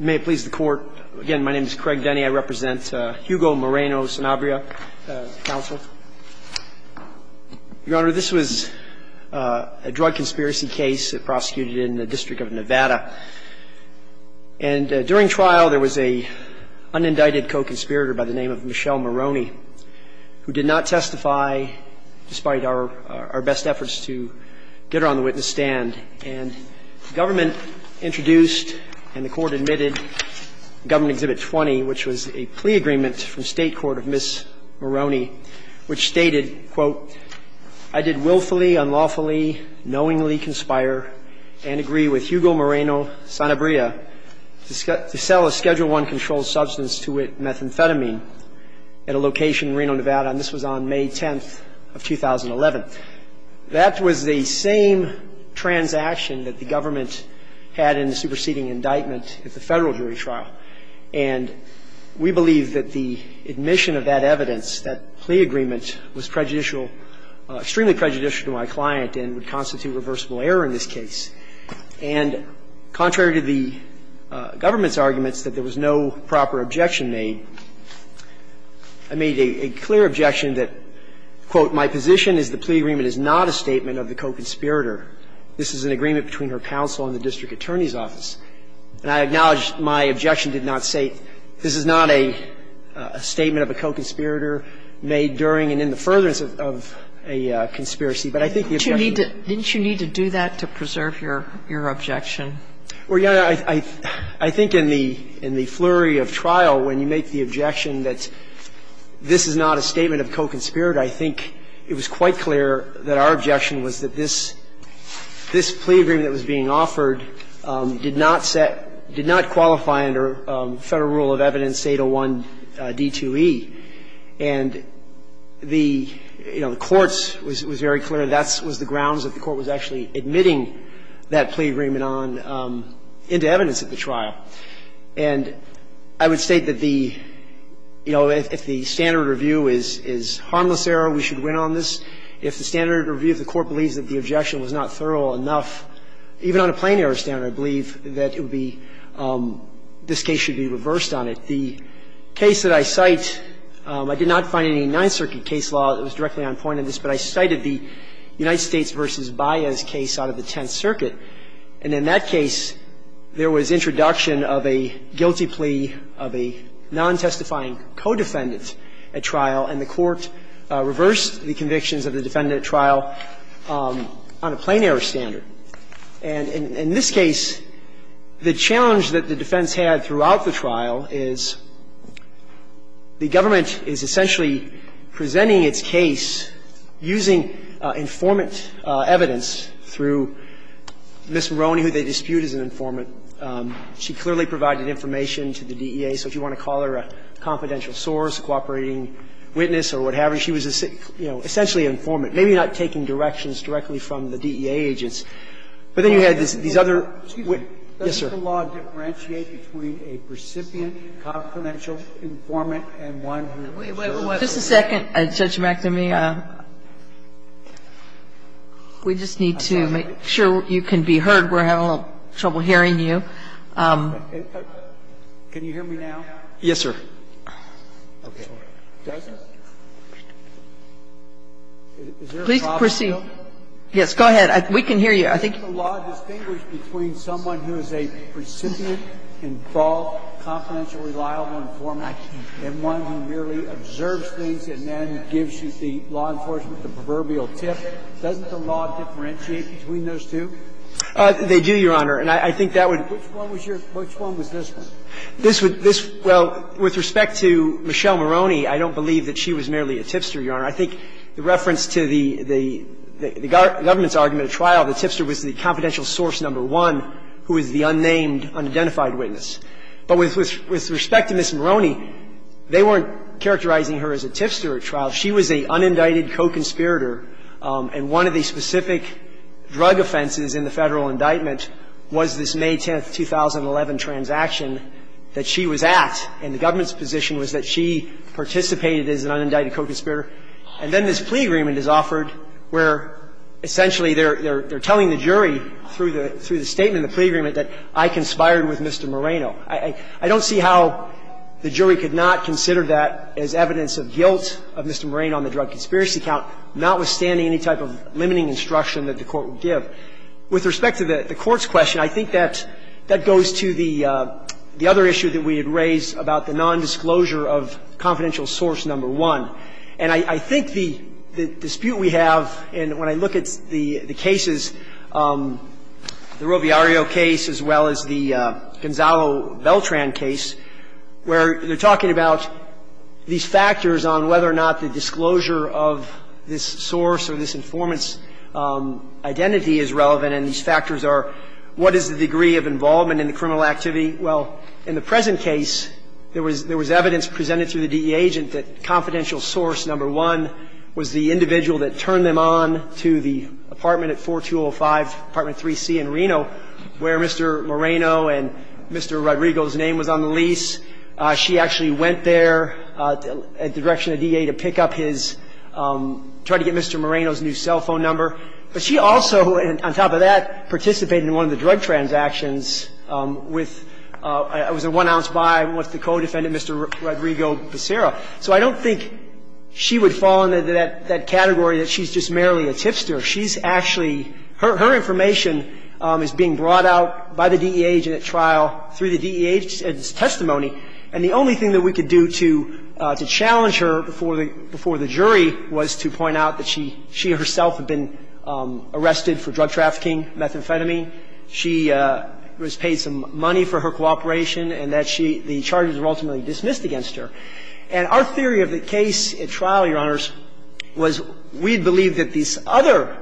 May it please the court. Again, my name is Craig Denny. I represent Hugo Moreno-Sanabria Council. Your Honor, this was a drug conspiracy case that prosecuted in the District of Nevada. And during trial, there was a unindicted co-conspirator by the name of Michelle Moroney who did not testify despite our best efforts to get her on the witness stand. And the government introduced, and the court admitted, Government Exhibit 20, which was a plea agreement from State Court of Ms. Moroney, which stated, quote, I did willfully, unlawfully, knowingly conspire and agree with Hugo Moreno-Sanabria to sell a Schedule I-controlled substance to methamphetamine at a location in Reno, Nevada, and this was on May 10th of 2011. That was the same transaction that the government had in the superseding indictment at the Federal jury trial. And we believe that the admission of that evidence, that plea agreement, was prejudicial – extremely prejudicial to my client and would constitute reversible error in this case. And contrary to the government's arguments that there was no proper objection made, I made a clear objection that, quote, my position is the plea agreement is not a statement of the co-conspirator. This is an agreement between her counsel and the district attorney's office. And I acknowledge my objection did not say, this is not a statement of a co-conspirator made during and in the furtherance of a conspiracy. But I think the objection was that the plea agreement is not a statement of a co-conspirator. And I think it was quite clear that our objection was that this – this plea agreement that was being offered did not set – did not qualify under Federal rule of evidence 801d2e. And the, you know, the Court's was very clear that that was the grounds that the Court was actually admitting that plea agreement on into evidence at the trial. And I would state that the, you know, if the standard review is – is harmless error, we should win on this. If the standard review of the Court believes that the objection was not thorough enough, even on a plain error standard, I believe that it would be – this case should be reversed on it. The case that I cite, I did not find any Ninth Circuit case law that was directly on point in this, but I cited the objection of a guilty plea of a non-testifying co-defendant at trial, and the Court reversed the convictions of the defendant at trial on a plain error standard. And in this case, the challenge that the defense had throughout the trial is the government is essentially presenting its case using informant evidence through Ms. Moroney, who they dispute as an informant. And so, you know, in this case, Ms. Moroney was not a co-defendant, but she was a co-defendant and she clearly provided information to the DEA. So if you want to call her a confidential source, cooperating witness or what have you, she was, you know, essentially an informant, maybe not taking directions directly from the DEA agents. But then you had these other – Scalia. Excuse me. Verrilli,, Yes, sir. Scalia. Does the law differentiate between a precipient, confidential informant and one who is a co-defendant? Verrilli, I have to check that for you. Can you hear me now? Verrilli, Yes, sir. Scalia. Okay. Is there a problem, though? Verrilli, Yes. Go ahead. We can hear you. I think you can hear me. Scalia. Doesn't the law distinguish between someone who is a precipient, involved, confidential, reliable informant and one who merely observes things and then gives you the law enforcement, the proverbial tip? Doesn't the law differentiate between those two? Verrilli, They do, Your Honor, and I think that would Scalia. Which one was this, then? Verrilli, Well, with respect to Michelle Maroney, I don't believe that she was merely a tipster, Your Honor. I think the reference to the government's argument at trial, the tipster was the confidential source number one, who is the unnamed, unidentified witness. But with respect to Ms. Maroney, they weren't characterizing her as a tipster at trial. She was a unindicted co-conspirator, and one of the specific drug offenses in the Federal indictment was this May 10, 2011, transaction that she was at, and the government's position was that she participated as an unindicted co-conspirator. And then this plea agreement is offered where essentially they're telling the jury through the statement in the plea agreement that I conspired with Mr. Moreno. I don't see how the jury could not consider that as evidence of guilt of Mr. Moreno on the drug conspiracy count, notwithstanding any type of limiting instruction that the Court would give. With respect to the Court's question, I think that goes to the other issue that we had raised about the nondisclosure of confidential source number one. And I think the dispute we have, and when I look at the cases, the Roviario case as well as the Gonzalo Beltran case, where they're talking about these factors on whether or not the disclosure of this source or this informant's identity is relevant, and these factors are what is the degree of involvement in the criminal activity. Well, in the present case, there was evidence presented through the DEA agent that confidential source number one was the individual that turned them on to the apartment at 4205, Apartment 3C in Reno, where Mr. Moreno and Mr. Rodrigo's name was on the lease. She actually went there at the direction of the DEA to pick up his – try to get Mr. Moreno's new cell phone number. But she also, on top of that, participated in one of the drug transactions with – it was a one-ounce buy with the co-defendant, Mr. Rodrigo Becerra. So I don't think she would fall into that category that she's just merely a tipster. She's actually – her information is being brought out by the DEA agent at trial through the DEA's testimony. And the only thing that we could do to challenge her before the jury was to point out that she herself had been arrested for drug trafficking, methamphetamine. She was paid some money for her cooperation, and that she – the charges were ultimately dismissed against her. And our theory of the case at trial, Your Honors, was we believed that this other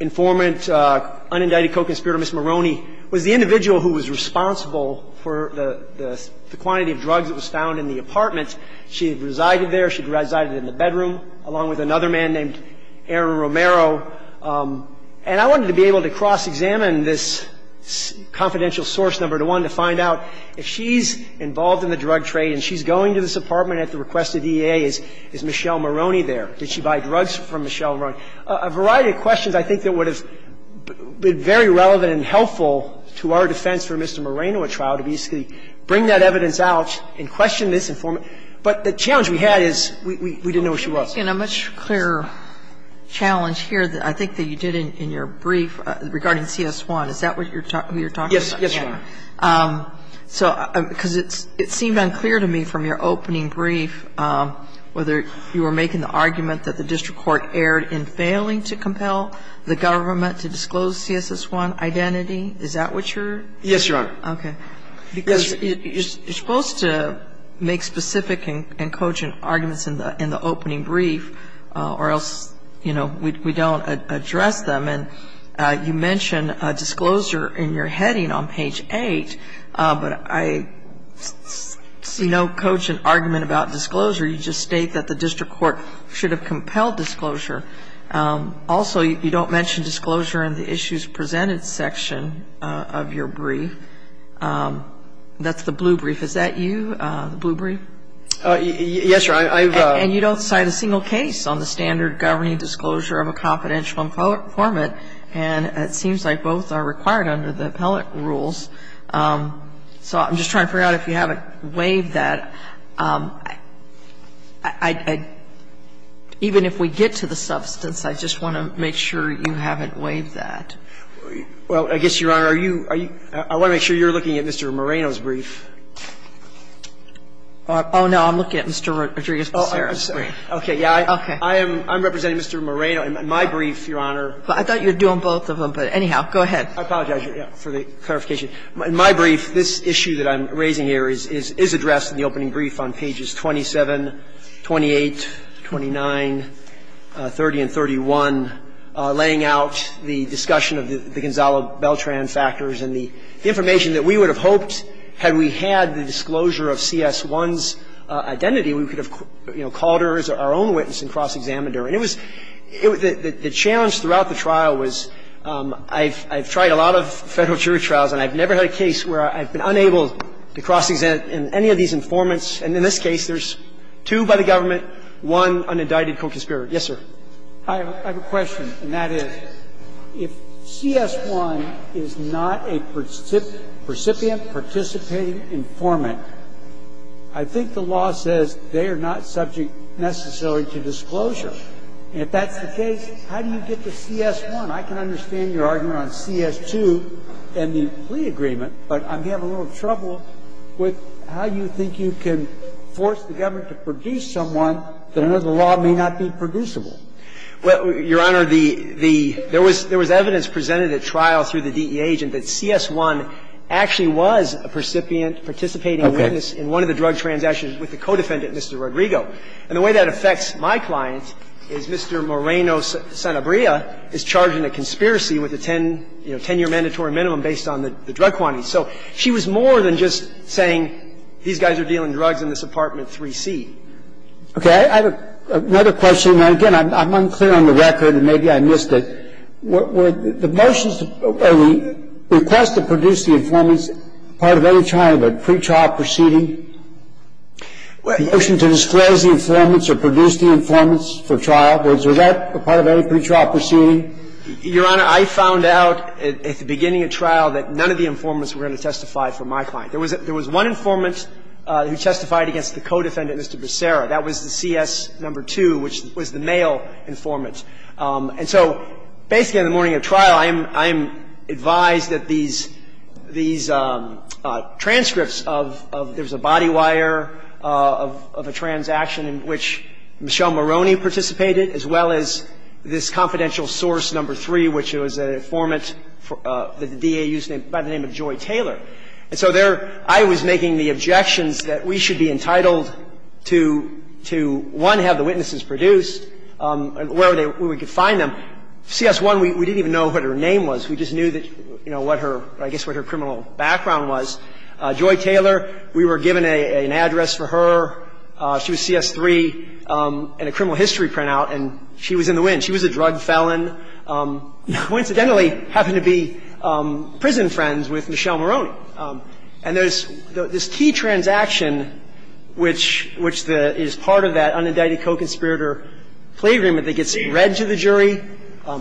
informant, unindicted co-conspirator, Ms. Moroni, was the individual who was responsible for the – the quantity of drugs that was found in the apartment. She had resided there. She had resided in the bedroom, along with another man named Aaron Romero. And I wanted to be able to cross-examine this confidential source number to one to find out if she's involved in the drug trade and she's going to this apartment at the request of the DEA. Is Michelle Moroni there? Did she buy drugs from Michelle Moroni? A variety of questions I think that would have been very relevant and helpful to our defense for Mr. Moreno at trial, to basically bring that evidence out and question this informant. But the challenge we had is we didn't know where she was. Sotomayor, you're making a much clearer challenge here, I think, than you did in your brief regarding CS1. Is that what you're talking about? Yes. Yes, Your Honor. So – because it seemed unclear to me from your opening brief whether you were making the argument that the district court erred in failing to compel the government to disclose CSS1 identity. Is that what you're – Yes, Your Honor. Okay. Because you're supposed to make specific and cogent arguments in the opening brief or else, you know, we don't address them. And you mention disclosure in your heading on page 8, but I see no cogent argument about disclosure. You just state that the district court should have compelled disclosure. Also, you don't mention disclosure in the issues presented section of your brief. That's the blue brief. Is that you, the blue brief? Yes, Your Honor. I've – And you don't cite a single case on the standard governing disclosure of a confidential informant. And it seems like both are required under the appellate rules. So I'm just trying to figure out if you haven't waived that. I – even if we get to the substance, I just want to make sure you haven't waived that. Well, I guess, Your Honor, are you – I want to make sure you're looking at Mr. Moreno's brief. Oh, no. I'm looking at Mr. Rodriguez-Posero's brief. Okay. Yeah. Okay. I am representing Mr. Moreno in my brief, Your Honor. I thought you were doing both of them, but anyhow, go ahead. I apologize for the clarification. In my brief, this issue that I'm raising here is addressed in the opening brief on pages 27, 28, 29, 30, and 31, laying out the discussion of the Gonzalo Beltran factors and the information that we would have hoped had we had the disclosure of CS1's identity, we could have, you know, called her as our own witness and cross-examined her. And it was – the challenge throughout the trial was I've tried a lot of Federal jury trials, and I've never had a case where I've been unable to cross-examine any of these informants, and in this case, there's two by the government, one unindicted co-conspirator. Yes, sir. I have a question, and that is, if CS1 is not a recipient, participating informant, I think the law says they are not subject necessarily to disclosure. If that's the case, how do you get to CS1? And I can understand your argument on CS2 and the plea agreement, but I'm having a little trouble with how you think you can force the government to produce someone that under the law may not be producible. Well, Your Honor, the – there was evidence presented at trial through the DEA agent that CS1 actually was a recipient participating witness in one of the drug transactions with the co-defendant, Mr. Rodrigo. And the way that affects my client is Mr. Moreno-Sanabria is charging a conspiracy with a 10-year mandatory minimum based on the drug quantity. So she was more than just saying, these guys are dealing drugs in this apartment 3C. Okay. I have another question. And again, I'm unclear on the record, and maybe I missed it. Were the motions of the request to produce the informants part of any kind of a pretrial proceeding? The motion to disclose the informants or produce the informants for trial, was that a part of any pretrial proceeding? Your Honor, I found out at the beginning of trial that none of the informants were going to testify for my client. There was one informant who testified against the co-defendant, Mr. Becerra. That was the CS2, which was the male informant. And so basically in the morning of trial, I am advised that these transcripts and I'm not going to go into the details of this, but what I am advising you is that And in the morning of trial, I am informed of there was a body wire of a transaction in which Michelle Maroney participated, as well as this confidential source No. as well as this confidential source No. 1, which was the witness, Joy Taylor. And so there I was making the objections that we should be entitled to, one, have the witnesses produced, where we could find them. CS1, we didn't even know what her name was. And there's this key transaction, which is part of that unindicted co-conspirator plea agreement that gets read to the jury,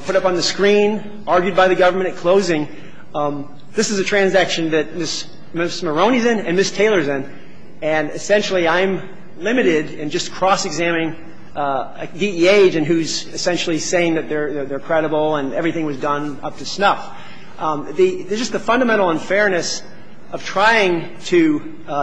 put up on the screen, argued by the government at closing. This is a transaction that Ms. Maroney's in and Ms. Taylor's in, and essentially I'm limited in just cross-examining a DEA agent who's essentially saying that they're credible and everything was done up to snuff. There's just the fundamental unfairness of trying to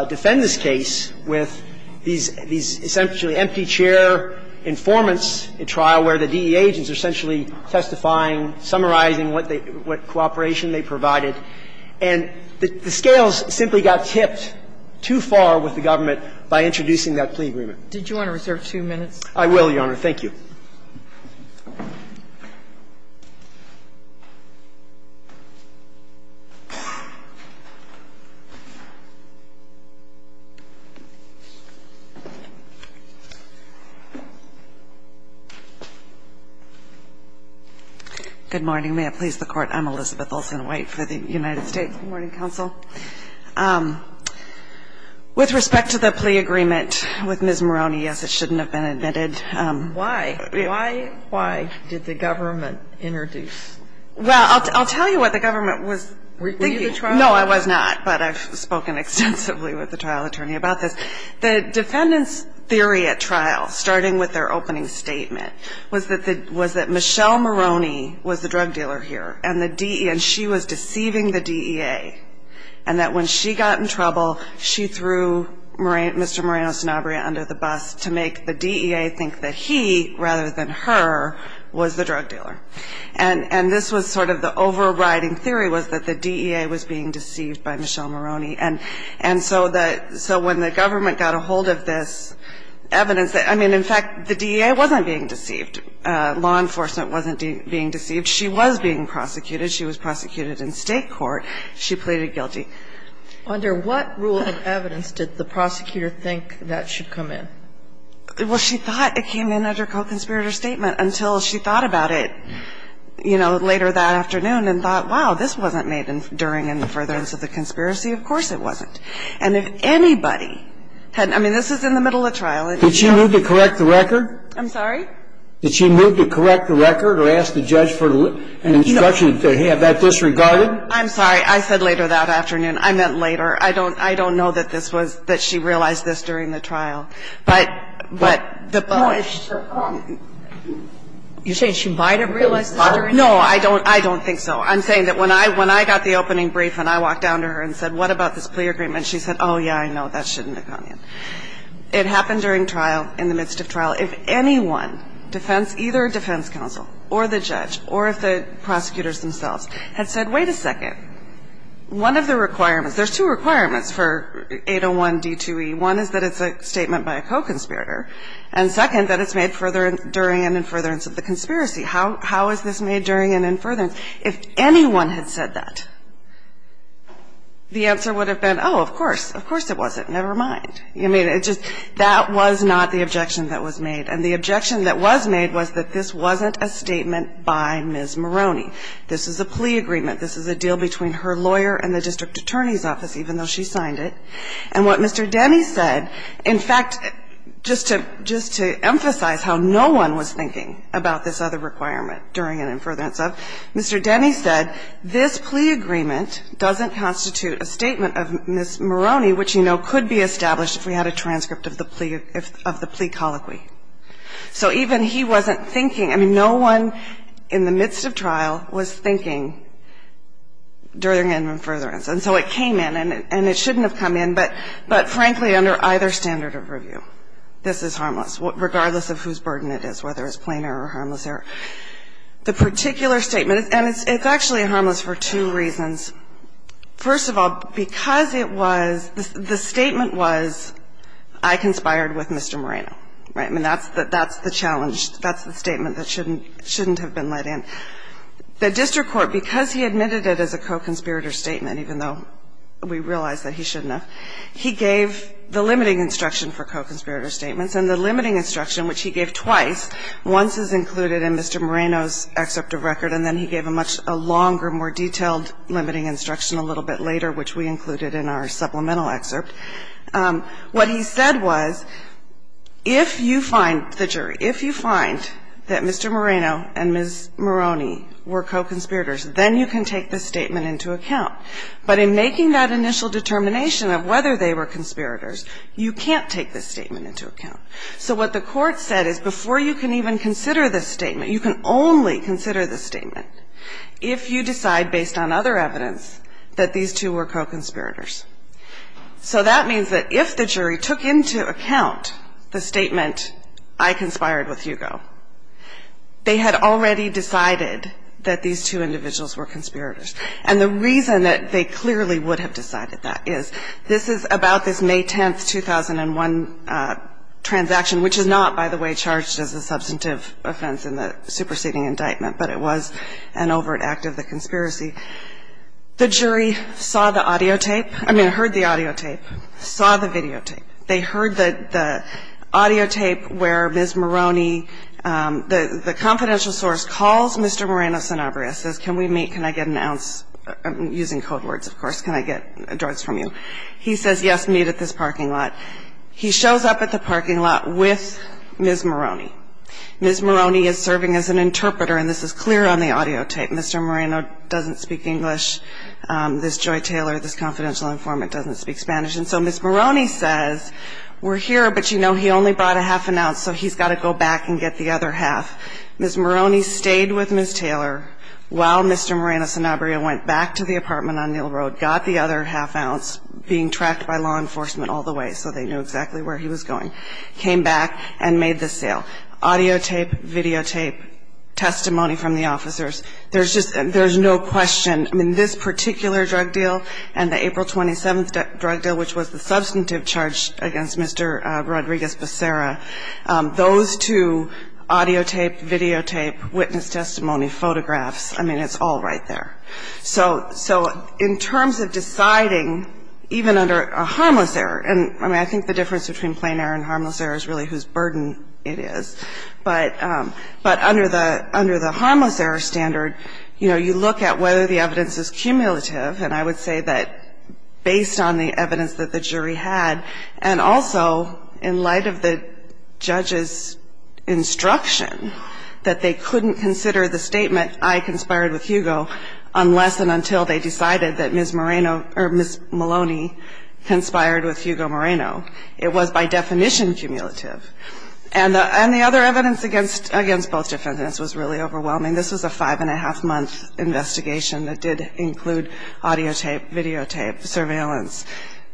defend this case with these essentially empty chair informants at trial where the DEA agents are essentially testifying, summarizing what cooperation they provided, and the scales simply got tipped too far with the government by introducing that plea agreement. Did you want to reserve two minutes? I will, Your Honor. Good morning. May it please the Court. I'm Elizabeth Olsen-White for the United States Morning Council. With respect to the plea agreement with Ms. Maroney, yes, it shouldn't have been admitted. Why? Why did the government introduce? Well, I'll tell you what the government was thinking. Were you at the trial? No, I was not, but I've spoken extensively with the trial attorney about this. The defendant's theory at trial, starting with their opening statement, was that Michelle Maroney was the drug dealer here and the DEA, and she was deceiving the DEA, and that when she got in trouble, she threw Mr. Moreno-Sanabria under the bus to make the DEA think that he, rather than her, was the drug dealer. And this was sort of the overriding theory, was that the DEA was being deceived by Michelle Maroney. And so when the government got a hold of this evidence, I mean, in fact, the DEA wasn't being deceived. Law enforcement wasn't being deceived. She was being prosecuted. She was prosecuted in State court. She pleaded guilty. Under what rule of evidence did the prosecutor think that should come in? Well, she thought it came in under co-conspirator statement until she thought about it, you know, later that afternoon and thought, wow, this wasn't made during and further into the conspiracy. Of course it wasn't. And if anybody had ñ I mean, this is in the middle of trial. Did she move to correct the record? I'm sorry? Did she move to correct the record or ask the judge for an instruction to have that disregarded? I'm sorry. I said later that afternoon. I meant later. I don't ñ I don't know that this was ñ that she realized this during the trial. But the ñ You're saying she might have realized this during the trial? No, I don't ñ I don't think so. I'm saying that when I got the opening brief and I walked down to her and said, what about this plea agreement, she said, oh, yeah, I know, that shouldn't have come in. It happened during trial, in the midst of trial. If anyone, defense ñ either defense counsel or the judge or if the prosecutors themselves had said, wait a second, one of the requirements ñ there's two requirements for 801 D2E. One is that it's a statement by a co-conspirator. And second, that it's made further during and in furtherance of the conspiracy. How is this made during and in furtherance? If anyone had said that, the answer would have been, oh, of course. Of course it wasn't. Never mind. I mean, it just ñ that was not the objection that was made. And the objection that was made was that this wasn't a statement by Ms. Maroney. This is a plea agreement. This is a deal between her lawyer and the district attorney's office, even though she signed it. And what Mr. Denny said, in fact, just to ñ just to emphasize how no one was thinking about this other requirement, during and in furtherance of, Mr. Denny said, this plea agreement doesn't constitute a statement of Ms. Maroney, which you know could be established if we had a transcript of the plea ñ of the plea colloquy. So even he wasn't thinking ñ I mean, no one in the midst of trial was thinking during and in furtherance. And so it came in, and it shouldn't have come in, but frankly, under either standard of review, this is harmless, regardless of whose burden it is, whether it's plain error or harmless error. The particular statement ñ and it's actually harmless for two reasons. First of all, because it was ñ the statement was, I conspired with Mr. Moreno, right? And that's the ñ that's the challenge. That's the statement that shouldn't ñ shouldn't have been let in. The district court, because he admitted it as a co-conspirator statement, even though we realize that he shouldn't have, he gave the limiting instruction for co-conspirator statements. And the limiting instruction, which he gave twice, once is included in Mr. Moreno's excerpt of record, and then he gave a much ñ a longer, more detailed limiting instruction a little bit later, which we included in our supplemental excerpt. What he said was, if you find the jury, if you find that Mr. Moreno and Ms. Moroni were co-conspirators, then you can take this statement into account. But in making that initial determination of whether they were conspirators, you can't take this statement into account. So what the Court said is before you can even consider this statement, you can only consider this statement if you decide, based on other evidence, that these two were co-conspirators. So that means that if the jury took into account the statement, I conspired with Hugo, they had already decided that these two individuals were conspirators. And the reason that they clearly would have decided that is, this is about this May 10, 2001 transaction, which is not, by the way, charged as a substantive offense in the superseding indictment, but it was an overt act of the conspiracy. The jury saw the audio tape, I mean, heard the audio tape, saw the videotape. They heard the audio tape where Ms. Moroni, the confidential source calls Mr. Moreno-Sanabria, says, can we meet, can I get an ounce, using code words, of course, can I get drugs from you? He says, yes, meet at this parking lot. He shows up at the parking lot with Ms. Moroni. Ms. Moroni is serving as an interpreter, and this is clear on the audio tape. Mr. Moreno doesn't speak English. This Joy Taylor, this confidential informant doesn't speak Spanish. And so Ms. Moroni says, we're here, but you know he only brought a half an ounce, so he's got to go back and get the other half. Ms. Moroni stayed with Ms. Taylor while Mr. Moreno-Sanabria went back to the apartment on Neal Road, got the other half ounce, being tracked by law enforcement all the way so they knew exactly where he was going, came back and made the sale. Audio tape, videotape, testimony from the officers. There's just no question. I mean, this particular drug deal and the April 27th drug deal, which was the substantive charge against Mr. Rodriguez Becerra, those two, audio tape, videotape, witness testimony, photographs, I mean, it's all right there. So in terms of deciding, even under a harmless error, and I mean, I think the difference between plain error and harmless error is really whose burden it is, but under the harmless error standard, you know, you look at whether the evidence is cumulative, and I would say that based on the evidence that the jury had, and also in light of the judge's instruction that they couldn't consider the statement, I conspired with Hugo, unless and until they decided that Ms. Moreno or Ms. Moroni conspired with Hugo Moreno. It was by definition cumulative. And the other evidence against both defendants was really overwhelming. This was a five-and-a-half-month investigation that did include audio tape, videotape, surveillance,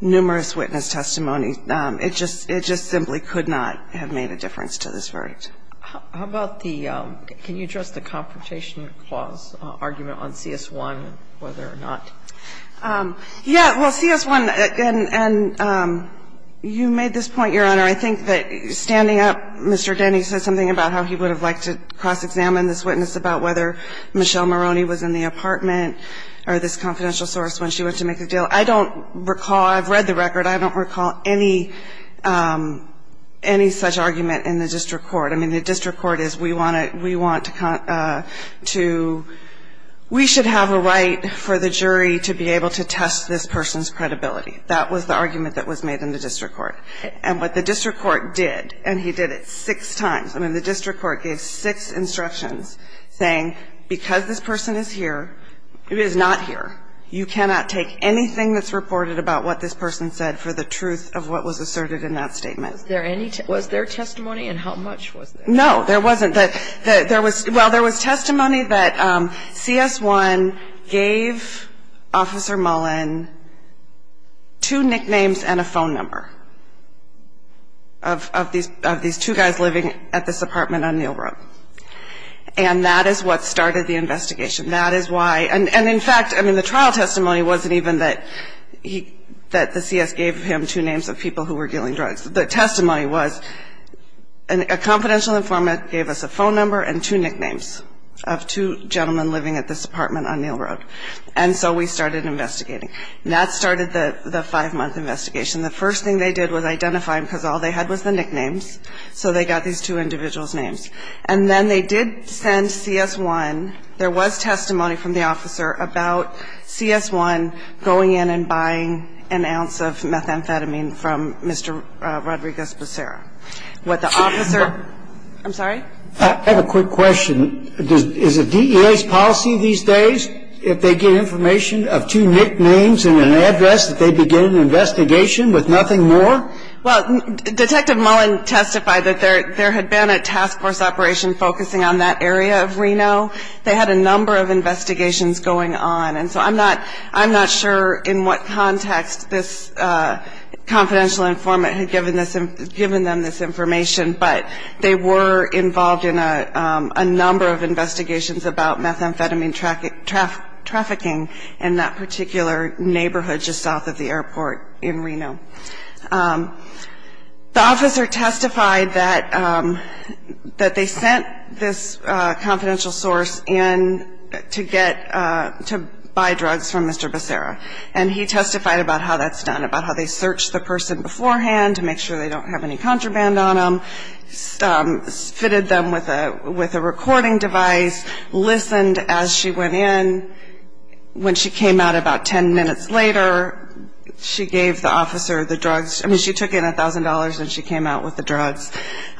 numerous witness testimony. It just simply could not have made a difference to this verdict. How about the can you address the confrontation clause argument on CS1, whether or not? Yeah. Well, CS1, and you made this point, Your Honor. I think that standing up, Mr. Denny said something about how he would have liked to cross-examine this witness about whether Michelle Moroni was in the apartment or this confidential source when she went to make the deal. I don't recall. I've read the record. I don't recall any such argument in the district court. I mean, the district court is we want to con to we should have a right for the jury to be able to test this person's credibility. That was the argument that was made in the district court. And what the district court did, and he did it six times, I mean, the district court gave six instructions saying because this person is here, who is not here, you cannot take anything that's reported about what this person said for the truth of what was asserted in that statement. Was there testimony, and how much was there? No, there wasn't. Well, there was testimony that CS1 gave Officer Mullen two nicknames and a phone number of these two guys living at this apartment on Neal Road. And that is what started the investigation. That is why. And, in fact, I mean, the trial testimony wasn't even that the CS gave him two names of people who were dealing drugs. The testimony was a confidential informant gave us a phone number and two nicknames of two gentlemen living at this apartment on Neal Road. And so we started investigating. And that started the five-month investigation. The first thing they did was identify him because all they had was the nicknames. So they got these two individuals' names. And then they did send CS1, there was testimony from the officer about CS1 going in and buying an ounce of methamphetamine from Mr. Rodriguez Becerra. What the officer, I'm sorry? I have a quick question. Is it DEA's policy these days if they get information of two nicknames and an address that they begin an investigation with nothing more? Well, Detective Mullen testified that there had been a task force operation focusing on that area of Reno. They had a number of investigations going on. And so I'm not sure in what context this confidential informant had given them this information, but they were involved in a number of investigations about methamphetamine trafficking in that particular neighborhood just south of the airport in Reno. The officer testified that they sent this confidential source in to get to buy drugs from Mr. Becerra. And he testified about how that's done, about how they searched the person beforehand to make sure they don't have any contraband on them, fitted them with a recording device, listened as she went in. When she came out about ten minutes later, she gave the officer the drugs. I mean, she took in $1,000 and she came out with the drugs.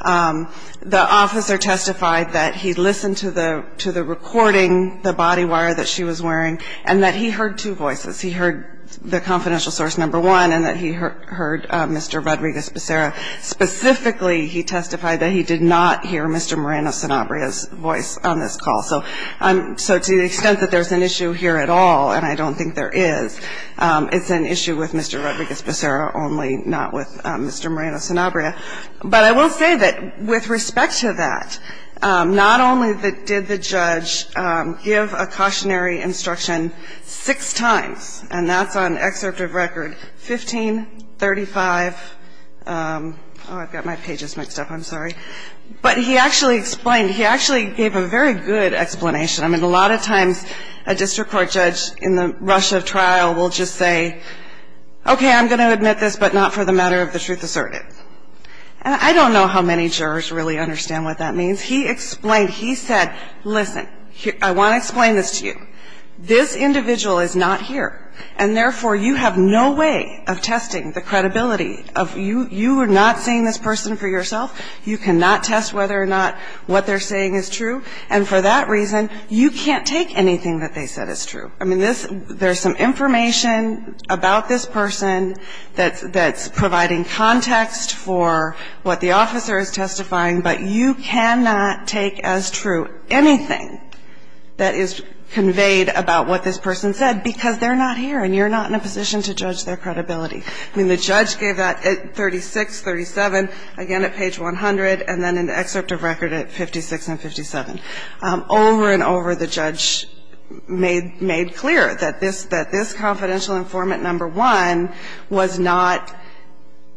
The officer testified that he listened to the recording, the body wire that she was wearing, and that he heard two voices. He heard the confidential source number one and that he heard Mr. Rodriguez Becerra. Specifically, he testified that he did not hear Mr. Moreno-Sanabria's voice on this call. So to the extent that there's an issue here at all, and I don't think there is, it's an issue with Mr. Rodriguez Becerra only, not with Mr. Moreno-Sanabria. But I will say that with respect to that, not only did the judge give a cautionary instruction six times, and that's on excerpt of record 1535. Oh, I've got my pages mixed up. I'm sorry. But he actually explained, he actually gave a very good explanation. I mean, a lot of times a district court judge in the rush of trial will just say, okay, I'm going to admit this, but not for the matter of the truth asserted. And I don't know how many jurors really understand what that means. He explained, he said, listen, I want to explain this to you. This individual is not here, and therefore, you have no way of testing the credibility of you. You are not seeing this person for yourself. You cannot test whether or not what they're saying is true. And for that reason, you can't take anything that they said as true. I mean, there's some information about this person that's providing context for what the officer is testifying, but you cannot take as true anything that is conveyed about what this person said because they're not here and you're not in a position to judge their credibility. I mean, the judge gave that at 36, 37, again at page 100, and then an excerpt of record at 56 and 57. Over and over, the judge made clear that this confidential informant number one was not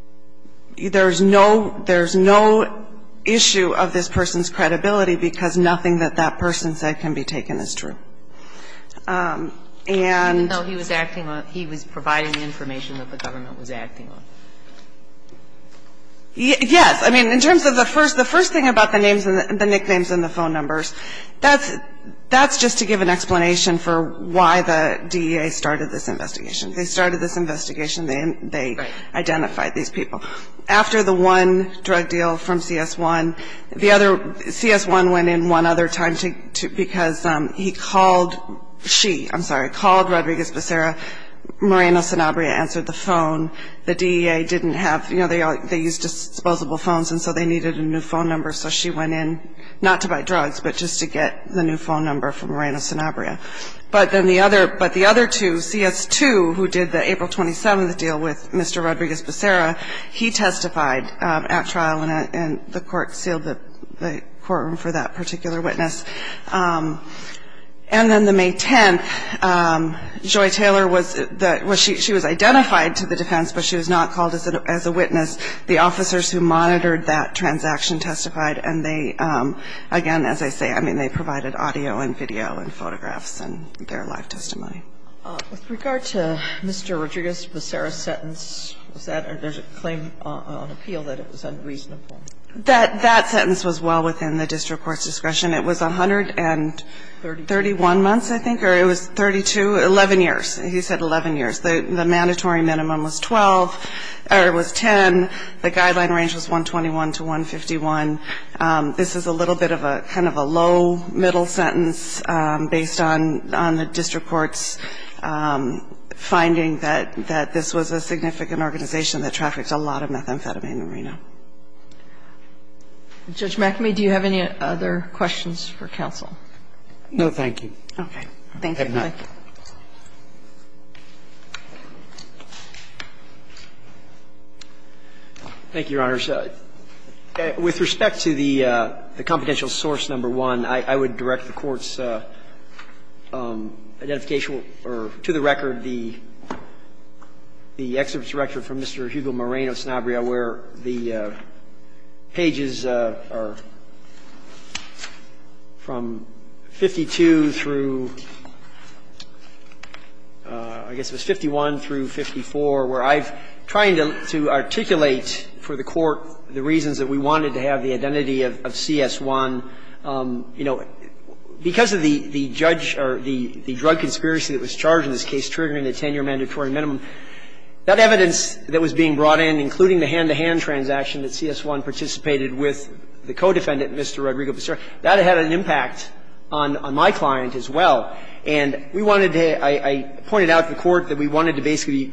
– there's no issue of this person's credibility because nothing that that person said can be taken as true. And – Even though he was acting on – he was providing the information that the government was acting on. Yes. I mean, in terms of the first thing about the names and the nicknames and the phone numbers, that's just to give an explanation for why the DEA started this investigation. They started this investigation. They identified these people. After the one drug deal from CS1, the other – CS1 went in one other time because he called – she, I'm sorry, called Rodriguez Becerra. Moreno-Sanabria answered the phone. The DEA didn't have – you know, they use disposable phones, and so they needed a new phone number. So she went in, not to buy drugs, but just to get the new phone number from Moreno-Sanabria. But then the other – but the other two, CS2, who did the April 27th deal with Mr. Rodriguez Becerra, he testified at trial, and the court sealed the courtroom for that particular witness. And then the May 10th, Joy Taylor was – she was identified to the defense, but she was not called as a witness. The officers who monitored that transaction testified, and they – again, as I say, I mean, they provided audio and video and photographs and their live testimony. With regard to Mr. Rodriguez Becerra's sentence, was that – there's a claim on appeal that it was unreasonable. That sentence was well within the district court's discretion. It was 131 months, I think, or it was 32 – 11 years. He said 11 years. The mandatory minimum was 12 – or it was 10. The guideline range was 121 to 151. This is a little bit of a – kind of a low, middle sentence based on the district court's finding that this was a significant organization that trafficked a lot of methamphetamine in Reno. Judge McAmey, do you have any other questions for counsel? No, thank you. Okay. Thank you. Thank you. Thank you, Your Honors. With respect to the – the confidential source number one, I would direct the Court's identification or, to the record, the excerpt from Mr. Hugo Moreno-Sanabria where the pages are from 52 through – I guess it was 51 through 54, where I'm trying to articulate for the Court the reasons that we wanted to have the identity of CS1. You know, because of the judge – or the drug conspiracy that was charged in this case triggering the 10-year mandatory minimum, that evidence that was being brought in, including the hand-to-hand transaction that CS1 participated with the co-defendant, Mr. Rodrigo Becerra, that had an impact on my client as well. And we wanted to – I pointed out to the Court that we wanted to basically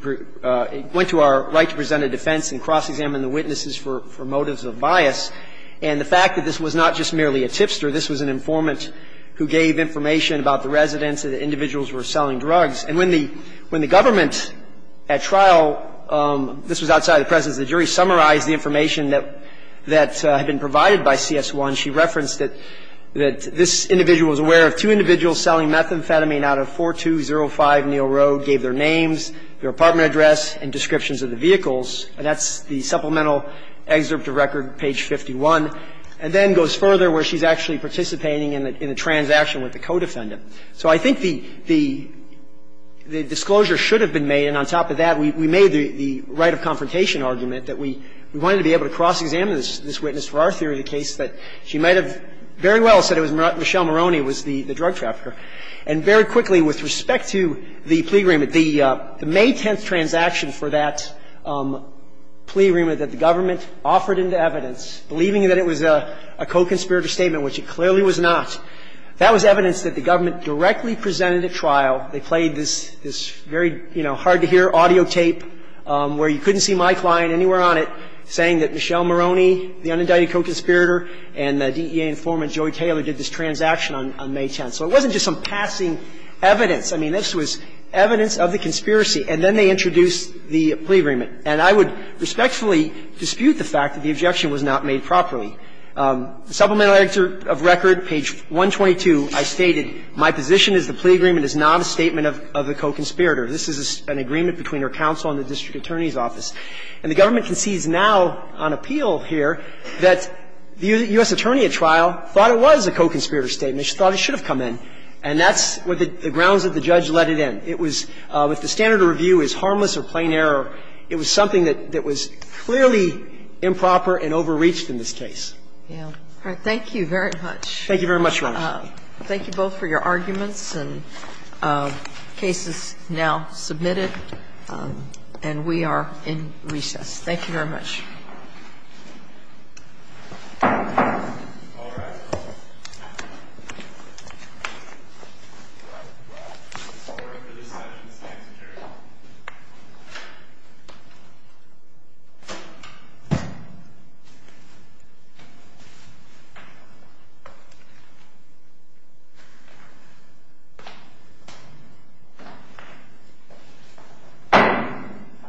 – went to our right to present a defense and cross-examine the witnesses for motives of bias. And the fact that this was not just merely a tipster, this was an informant who gave information about the residents and the individuals who were selling drugs. And when the – when the government at trial – this was outside of the presence of the jury – summarized the information that had been provided by CS1, she referenced that this individual was aware of two individuals selling methamphetamine out of 4205 Neal Road, gave their names, their apartment address, and descriptions of the vehicles. And that's the supplemental excerpt to record, page 51. And then goes further, where she's actually participating in a transaction with the co-defendant. So I think the – the disclosure should have been made, and on top of that, we made the right of confrontation argument that we wanted to be able to cross-examine this witness for our theory of the case, that she might have very well said it was Michelle Moroney, who was the drug trafficker. And very quickly, with respect to the plea agreement, the May 10th transaction for that plea agreement that the government offered into evidence, believing that it was a co-conspirator statement, which it clearly was not, that was evidence that the government directly presented at trial. They played this very, you know, hard-to-hear audio tape where you couldn't see my client anywhere on it, saying that Michelle Moroney, the unindicted co-conspirator, and the DEA informant, Joey Taylor, did this transaction on May 10th. So it wasn't just some passing evidence. I mean, this was evidence of the conspiracy. And then they introduced the plea agreement. And I would respectfully dispute the fact that the objection was not made properly. Supplementary of record, page 122, I stated, My position is the plea agreement is not a statement of a co-conspirator. This is an agreement between our counsel and the district attorney's office. And the government concedes now on appeal here that the U.S. attorney at trial thought it was a co-conspirator statement. She thought it should have come in. And that's what the grounds that the judge let it in. It was, if the standard of review is harmless or plain error, it was something that was clearly improper and overreached in this case. Yeah. All right. Thank you very much. Thank you very much, Your Honor. Thank you both for your arguments. And the case is now submitted. And we are in recess. Thank you very much. Thank you.